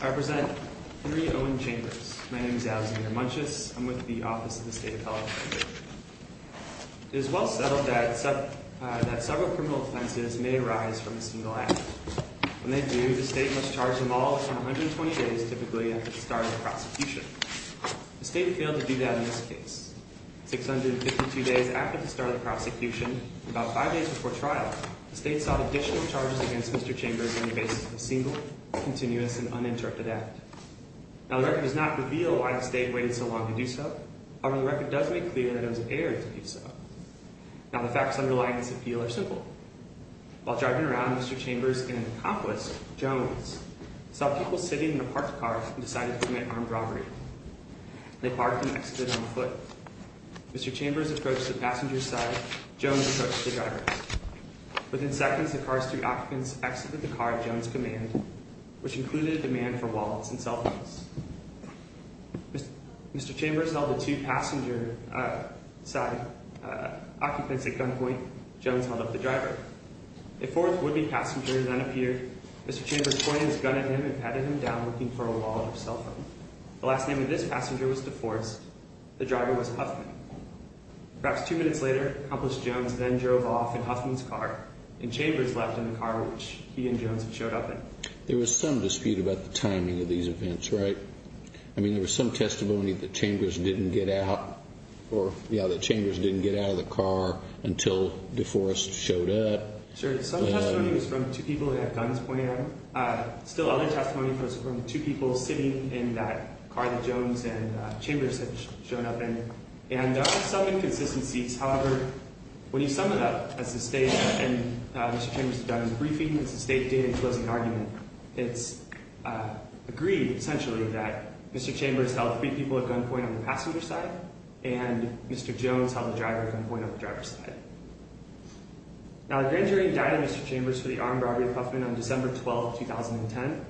I represent Henry Owen Chambers. My name is Alexander Munches. I'm with the Office of the State Appellate. It is well settled that several criminal offenses may arise from a single act. When they do, the state must charge them all with 120 days, typically, after the start of the prosecution. The state failed to do that in this case. 652 days after the start of the prosecution, and about 5 days before trial, the state sought additional charges against Mr. Chambers on the basis of a single, continuous, and uninterrupted act. Now, the record does not reveal why the state waited so long to do so. However, the record does make clear that it was aired to do so. Now, the facts underlying this appeal are simple. While driving around, Mr. Chambers and an accomplice, Jones, saw people sitting in a parked car and decided to commit armed robbery. They parked and exited on foot. Mr. Chambers approached the passenger side. Jones approached the driver's side. Within seconds, the car's three occupants exited the car at Jones' command, which included a demand for wallets and cell phones. Mr. Chambers held the two passenger side occupants at gunpoint. Jones held up the driver. A fourth would-be passenger then appeared. Mr. Chambers pointed his gun at him and patted him down, looking for a wallet or cell phone. The last name of this passenger was DeForest. The driver was Huffman. Perhaps two minutes later, Accomplice Jones then drove off in Huffman's car, and Chambers left in the car which he and Jones had showed up in. There was some dispute about the timing of these events, right? I mean, there was some testimony that Chambers didn't get out or, yeah, that Chambers didn't get out of the car until DeForest showed up. Sure. Some testimony was from the two people that had guns pointed at him. Still other testimony was from the two people sitting in that car that Jones and Chambers had shown up in. And there are some inconsistencies. However, when you sum it up as this data, and Mr. Chambers has done his briefing, it's a state data-enclosing argument. It's agreed, essentially, that Mr. Chambers held three people at gunpoint on the passenger side, and Mr. Jones held the driver at gunpoint on the driver's side. Now, the grand jury indicted Mr. Chambers for the armed robbery of Huffman on December 12, 2010.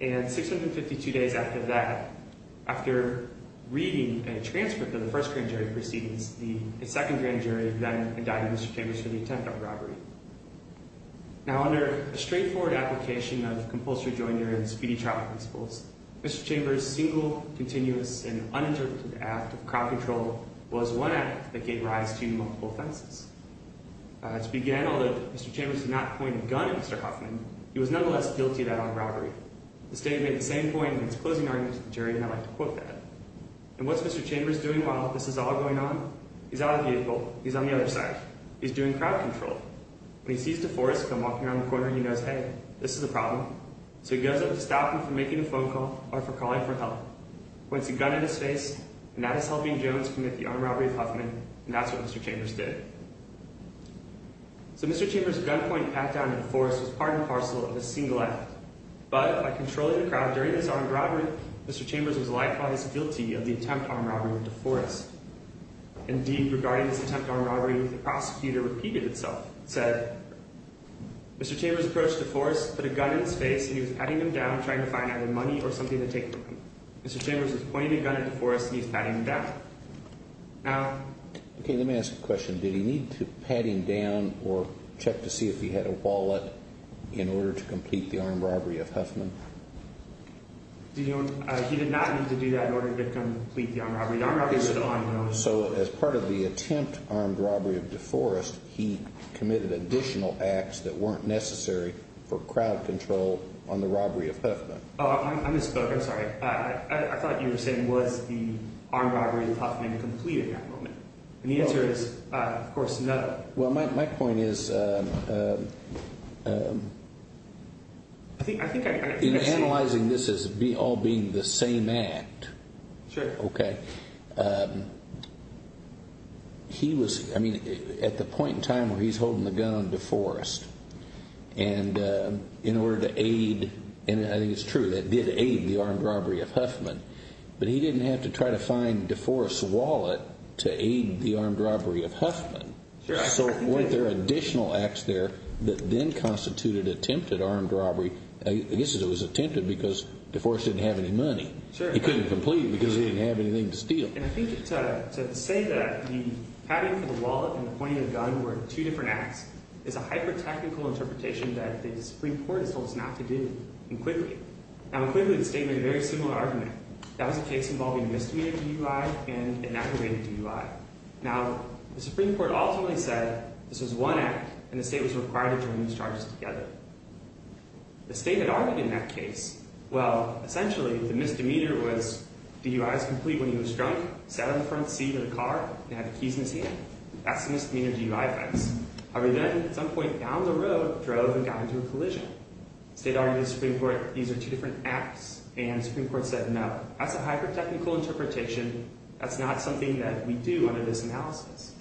And 652 days after that, after reading a transcript of the first grand jury proceedings, the second grand jury then indicted Mr. Chambers for the attempt on robbery. Now, under a straightforward application of compulsory joinery and speedy trial principles, Mr. Chambers' single, continuous, and uninterrupted act of crowd control was one act that gave rise to multiple offenses. To begin, although Mr. Chambers did not point a gun at Mr. Huffman, he was nonetheless guilty of that armed robbery. The statement made the same point in its closing argument to the jury, and I'd like to quote that. And what's Mr. Chambers doing while this is all going on? He's out of the vehicle. He's on the other side. He's doing crowd control. When he sees DeForest come walking around the corner, he knows, hey, this is a problem. So he goes up to stop him from making a phone call or for calling for help. He points a gun in his face, and that is helping Jones commit the armed robbery of Huffman, and that's what Mr. Chambers did. So Mr. Chambers' gunpoint pat-down to DeForest was part and parcel of his single act. But by controlling the crowd during this armed robbery, Mr. Chambers was likewise guilty of the attempt on robbery with DeForest. Indeed, regarding this attempt on robbery, the prosecutor repeated itself and said, Mr. Chambers approached DeForest, put a gun in his face, and he was patting him down, trying to find either money or something to take from him. Mr. Chambers was pointing a gun at DeForest, and he was patting him down. OK, let me ask a question. Did he need to pat him down or check to see if he had a wallet in order to complete the armed robbery of Huffman? He did not need to do that in order to complete the armed robbery. The armed robbery was ongoing. So as part of the attempt armed robbery of DeForest, he committed additional acts that weren't necessary for crowd control on the robbery of Huffman. Oh, I misspoke. I'm sorry. I thought you were saying, was the armed robbery of Huffman completed at that moment? And the answer is, of course, no. Well, my point is, in analyzing this as all being the same act, OK, he was, I mean, at the point in time where he's holding the gun on DeForest, and in order to aid, and I think it's true that it did aid the armed robbery of Huffman, but he didn't have to try to find DeForest's wallet to aid the armed robbery of Huffman. So weren't there additional acts there that then constituted attempted armed robbery? I guess it was attempted because DeForest didn't have any money. Sure. He couldn't complete it because he didn't have anything to steal. And I think to say that the patting for the wallet and pointing the gun were two different acts is a hyper-technical interpretation that the Supreme Court has told us not to do. Now, in Quigley, the state made a very similar argument. That was a case involving misdemeanor DUI and an aggravated DUI. Now, the Supreme Court ultimately said this was one act, and the state was required to join these charges together. The state had argued in that case, well, essentially, the misdemeanor was DUI was complete when he was drunk, sat on the front seat of the car, and had the keys in his hand. That's the misdemeanor DUI offense. However, then, at some point down the road, drove and got into a collision. The state argued to the Supreme Court these are two different acts, and the Supreme Court said no. That's a hyper-technical interpretation. That's not something that we do under this analysis.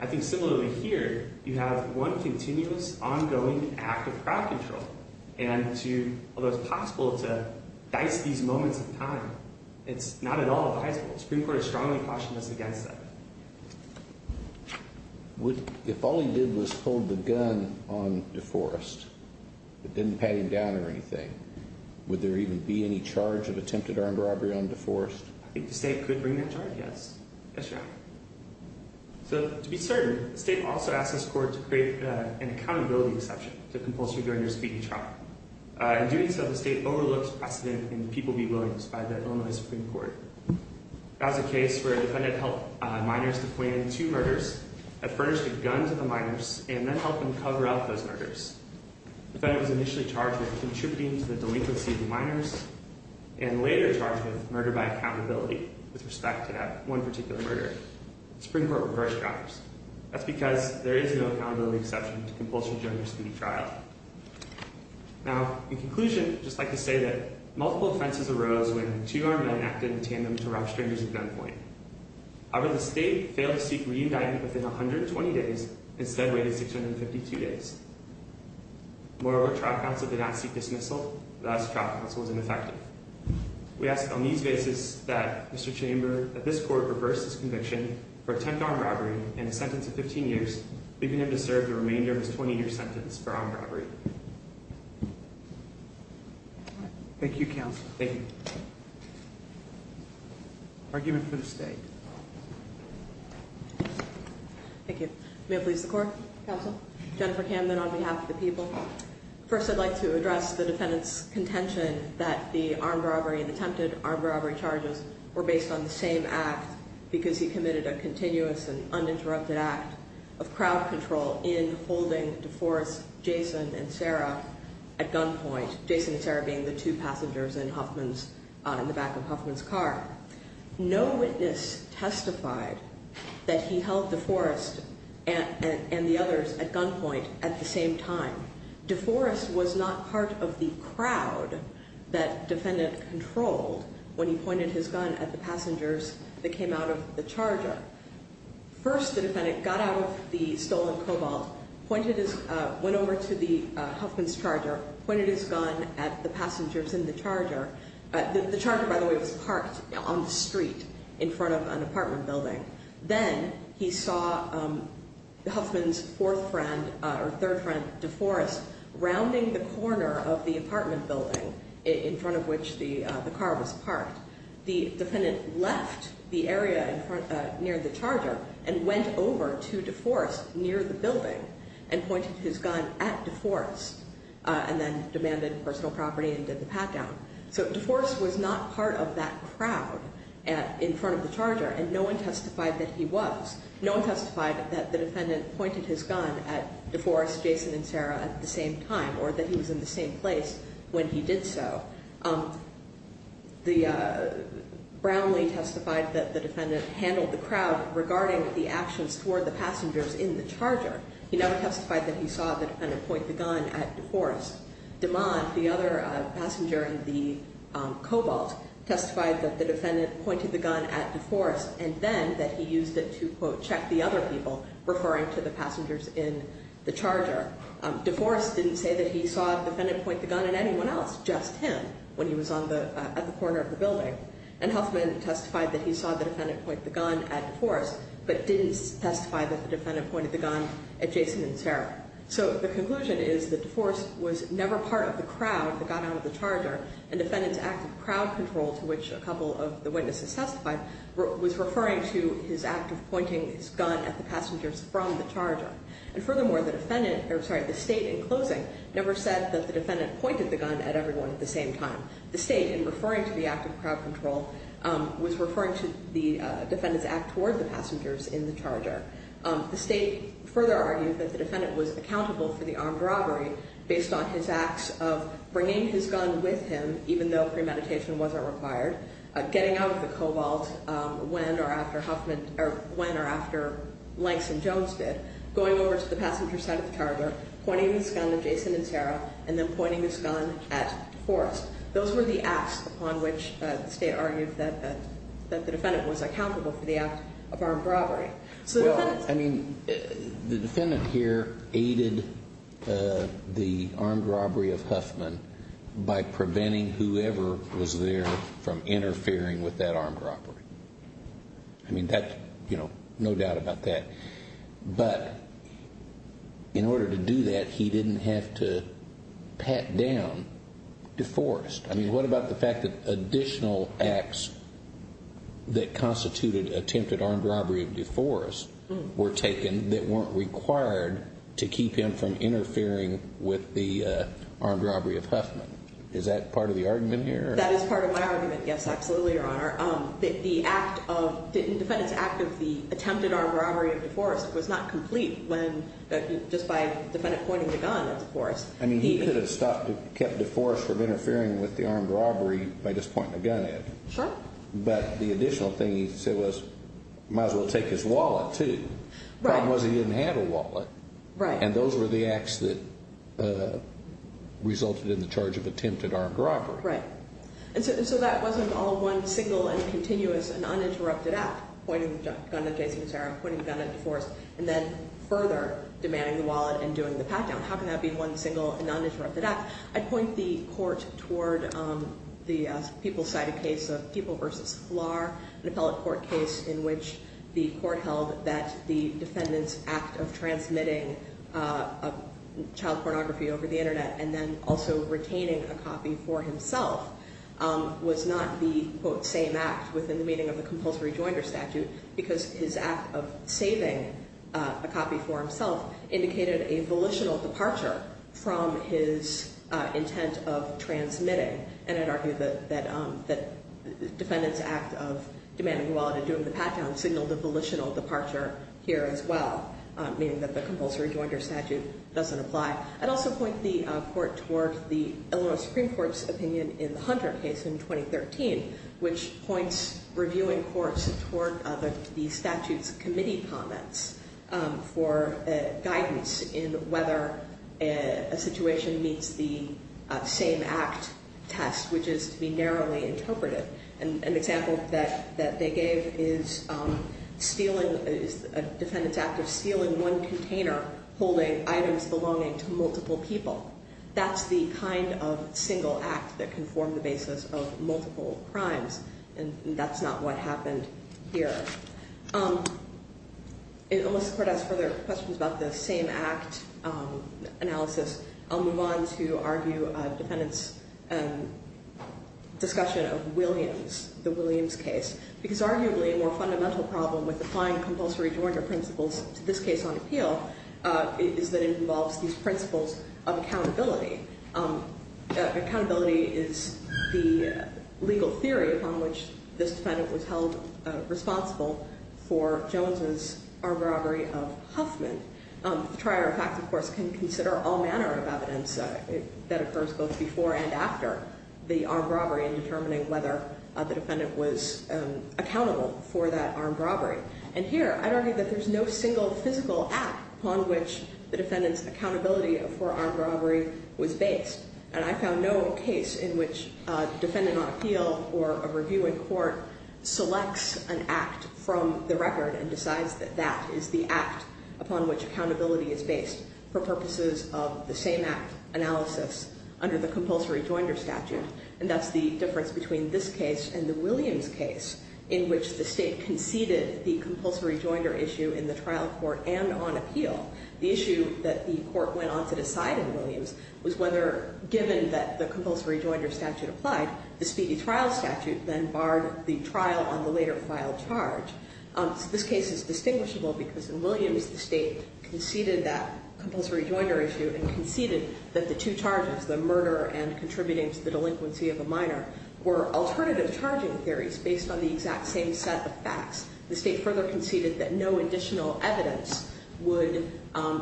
I think similarly here, you have one continuous, ongoing act of crowd control. And although it's possible to dice these moments in time, it's not at all advisable. The Supreme Court has strongly cautioned us against that. If all he did was hold the gun on DeForest, but didn't pat him down or anything, would there even be any charge of attempted armed robbery on DeForest? I think the state could bring that charge, yes. Yes, Your Honor. So, to be certain, the state also asked this court to create an accountability exception to compulsory drug use and beating and trauma. In doing so, the state overlooked precedent in the people-be-willingness by the Illinois Supreme Court. That was a case where a defendant helped minors to plan two murders, had furnished a gun to the minors, and then helped them cover up those murders. The defendant was initially charged with contributing to the delinquency of the minors, and later charged with murder by accountability with respect to that one particular murder. The Supreme Court reversed that. That's because there is no accountability exception to compulsory drug use in the trial. Now, in conclusion, I'd just like to say that multiple offenses arose when two armed men acted in tandem to rob strangers at gunpoint. However, the state failed to seek re-indictment within 120 days and instead waited 652 days. Moreover, trial counsel did not seek dismissal, thus trial counsel was ineffective. We ask on these basis that Mr. Chamber, that this court reverse this conviction for attempted armed robbery and a sentence of 15 years, leaving him to serve the remainder of his 20-year sentence for armed robbery. Thank you, counsel. Thank you. Argument for the state. Thank you. May it please the court? Counsel. Jennifer Camden on behalf of the people. First, I'd like to address the defendant's contention that the armed robbery and attempted armed robbery charges were based on the same act because he committed a continuous and uninterrupted act. Of crowd control in holding DeForest, Jason, and Sarah at gunpoint. Jason and Sarah being the two passengers in Huffman's, in the back of Huffman's car. No witness testified that he held DeForest and the others at gunpoint at the same time. DeForest was not part of the crowd that defendant controlled when he pointed his gun at the passengers that came out of the charger. First, the defendant got out of the stolen Cobalt, pointed his, went over to the Huffman's charger, pointed his gun at the passengers in the charger. The charger, by the way, was parked on the street in front of an apartment building. Then, he saw Huffman's fourth friend, or third friend, DeForest, rounding the corner of the apartment building in front of which the car was parked. The defendant left the area in front, near the charger and went over to DeForest near the building and pointed his gun at DeForest and then demanded personal property and did the pat down. So, DeForest was not part of that crowd in front of the charger and no one testified that he was. No one testified that the defendant pointed his gun at DeForest, Jason, and Sarah at the same time or that he was in the same place when he did so. Brownlee testified that the defendant handled the crowd regarding the actions toward the passengers in the charger. He never testified that he saw the defendant point the gun at DeForest. DeMond, the other passenger in the Cobalt, testified that the defendant pointed the gun at DeForest and then that he used it to, quote, check the other people referring to the passengers in the charger. DeForest didn't say that he saw the defendant point the gun at anyone else, just him, when he was at the corner of the building. And Huffman testified that he saw the defendant point the gun at DeForest but didn't testify that the defendant pointed the gun at Jason and Sarah. So, the conclusion is that DeForest was never part of the crowd that got out of the charger and the defendant's act of crowd control, to which a couple of the witnesses testified, was referring to his act of pointing his gun at the passengers from the charger. And furthermore, the state, in closing, never said that the defendant pointed the gun at everyone at the same time. The state, in referring to the act of crowd control, was referring to the defendant's act toward the passengers in the charger. The state further argued that the defendant was accountable for the armed robbery based on his acts of bringing his gun with him, even though premeditation wasn't required, getting out of the Cobalt when or after Huffman, or when or after Langston Jones did, going over to the passenger side of the charger, pointing his gun at Jason and Sarah, and then pointing his gun at DeForest. Those were the acts upon which the state argued that the defendant was accountable for the act of armed robbery. Well, I mean, the defendant here aided the armed robbery of Huffman by preventing whoever was there from interfering with that armed robbery. I mean, that, you know, no doubt about that. But in order to do that, he didn't have to pat down DeForest. I mean, what about the fact that additional acts that constituted attempted armed robbery of DeForest were taken that weren't required to keep him from interfering with the armed robbery of Huffman? Is that part of the argument here? That is part of my argument, yes, absolutely, Your Honor. The defendant's act of the attempted armed robbery of DeForest was not complete when, just by the defendant pointing the gun at DeForest. I mean, he could have stopped, kept DeForest from interfering with the armed robbery by just pointing the gun at him. Sure. But the additional thing he said was, might as well take his wallet, too. Right. Problem was he didn't have a wallet. Right. And those were the acts that resulted in the charge of attempted armed robbery. Right. And so that wasn't all one single and continuous and uninterrupted act, pointing the gun at Jason and Sarah, pointing the gun at DeForest, and then further demanding the wallet and doing the pat-down. How can that be one single and uninterrupted act? I'd point the court toward the people-sided case of People v. Flar, an appellate court case in which the court held that the defendant's act of transmitting child pornography over the internet and then also retaining a copy for himself was not the, quote, same act within the meaning of the compulsory joinder statute because his act of saving a copy for himself indicated a volitional departure from his intent of transmitting. And I'd argue that the defendant's act of demanding the wallet and doing the pat-down signaled a volitional departure here as well, meaning that the compulsory joinder statute doesn't apply. I'd also point the court toward the Illinois Supreme Court's opinion in the Hunter case in 2013, which points reviewing courts toward the statute's committee comments for guidance in whether a situation meets the same act test, which is to be narrowly interpreted. An example that they gave is a defendant's act of stealing one container, holding items belonging to multiple people. That's the kind of single act that can form the basis of multiple crimes, and that's not what happened here. Unless the court asks further questions about the same act analysis, I'll move on to argue a defendant's discussion of Williams, the Williams case. Because arguably a more fundamental problem with applying compulsory joinder principles to this case on appeal is that it involves these principles of accountability. Accountability is the legal theory upon which this defendant was held responsible for Jones' armed robbery of Huffman. The trier of facts, of course, can consider all manner of evidence that occurs both before and after the armed robbery in determining whether the defendant was accountable for that armed robbery. And here, I'd argue that there's no single physical act upon which the defendant's accountability for armed robbery was based. And I found no case in which a defendant on appeal or a review in court selects an act from the record and decides that that is the act upon which accountability is based for purposes of the same act analysis under the compulsory joinder statute. And that's the difference between this case and the Williams case, in which the state conceded the compulsory joinder issue in the trial court and on appeal. The issue that the court went on to decide in Williams was whether, given that the compulsory joinder statute applied, the speedy trial statute then barred the trial on the later filed charge. So this case is distinguishable because in Williams, the state conceded that compulsory joinder issue and conceded that the two charges, the murder and contributing to the delinquency of a minor, were alternative charging theories based on the exact same set of facts. The state further conceded that no additional evidence would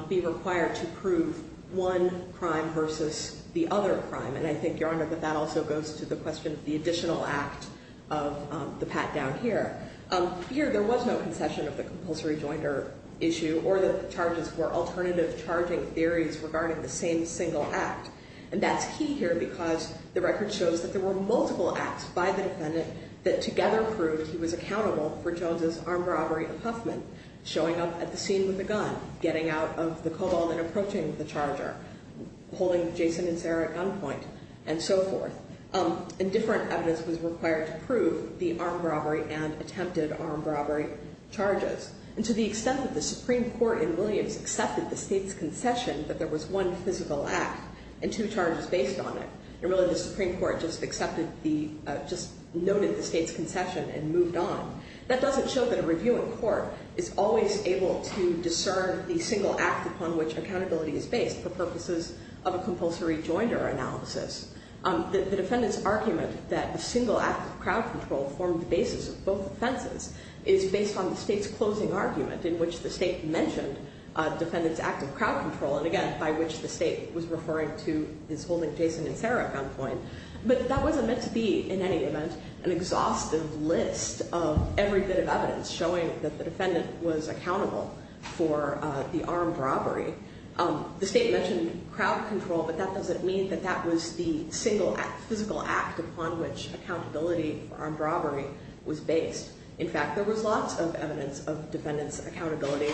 be required to prove one crime versus the other crime. And I think, Your Honor, that that also goes to the question of the additional act of the pat down here. Here, there was no concession of the compulsory joinder issue or that the charges were alternative charging theories regarding the same single act. And that's key here because the record shows that there were multiple acts by the defendant that together proved he was accountable for Jones' armed robbery of Huffman, showing up at the scene with a gun, getting out of the cobalt and approaching the charger, holding Jason and Sarah at gunpoint, and so forth. And different evidence was required to prove the armed robbery and attempted armed robbery charges. And to the extent that the Supreme Court in Williams accepted the state's concession that there was one physical act and two charges based on it, and really the Supreme Court just noted the state's concession and moved on, that doesn't show that a review in court is always able to discern the single act upon which accountability is based for purposes of a compulsory joinder analysis. The defendant's argument that the single act of crowd control formed the basis of both offenses is based on the state's closing argument in which the state mentioned the defendant's act of crowd control, and again, by which the state was referring to his holding Jason and Sarah at gunpoint. But that wasn't meant to be, in any event, an exhaustive list of every bit of evidence showing that the defendant was accountable for the armed robbery. The state mentioned crowd control, but that doesn't mean that that was the single physical act upon which accountability for armed robbery was based. In fact, there was lots of evidence of the defendant's accountability,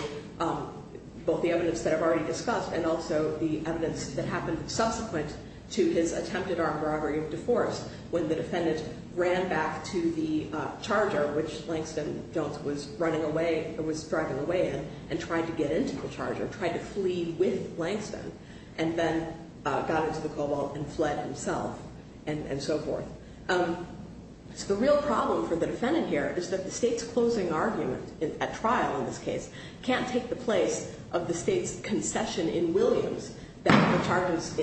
both the evidence that I've already discussed and also the evidence that happened subsequent to his attempted armed robbery of deforce when the defendant ran back to the charger, which Langston Jones was driving away in, and tried to get into the charger, tried to flee with Langston, and then got into the cobalt and fled himself, and so forth. So the real problem for the defendant here is that the state's closing argument at trial in this case can't take the place of the state's concession in Williams that the charges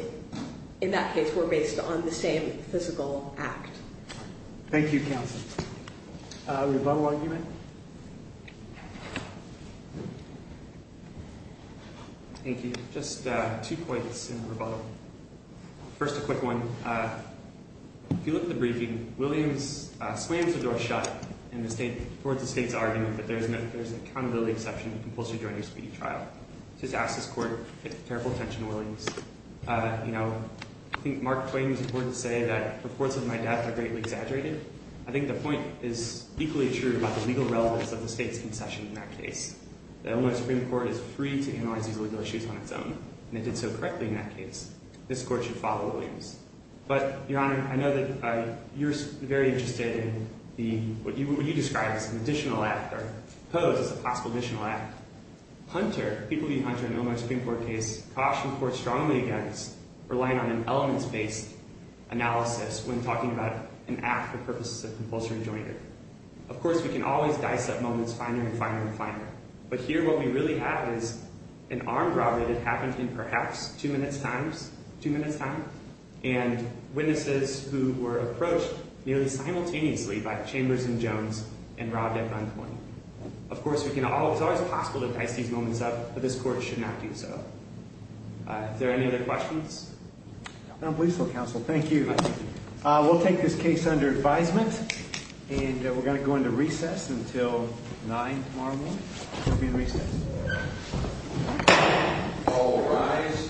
in that case were based on the same physical act. Thank you, counsel. Rebuttal argument? Thank you. Just two points in rebuttal. First, a quick one. If you look at the briefing, Williams slams the door shut towards the state's argument that there's an accountability exception compulsory during a speedy trial. Just ask this court to pay careful attention to Williams. I think Mark Twain used the word to say that reports of my death are greatly exaggerated. I think the point is equally true about the legal relevance of the state's concession in that case. The Illinois Supreme Court is free to analyze these legal issues on its own, and it did so correctly in that case. This court should follow Williams. But, Your Honor, I know that you're very interested in what you describe as an additional act or pose as a possible additional act. People view Hunter in the Illinois Supreme Court case cautioned the court strongly against relying on an elements-based analysis when talking about an act for purposes of compulsory enjoyment. Of course, we can always dice up moments finer and finer and finer. But here, what we really have is an armed robbery that happened in perhaps two minutes' time, and witnesses who were approached nearly simultaneously by Chambers and Jones and robbed at gunpoint. Of course, it's always possible to dice these moments up, but this court should not do so. Are there any other questions? I don't believe so, counsel. Thank you. We'll take this case under advisement, and we're going to go into recess until 9 tomorrow morning. We'll be in recess. All rise.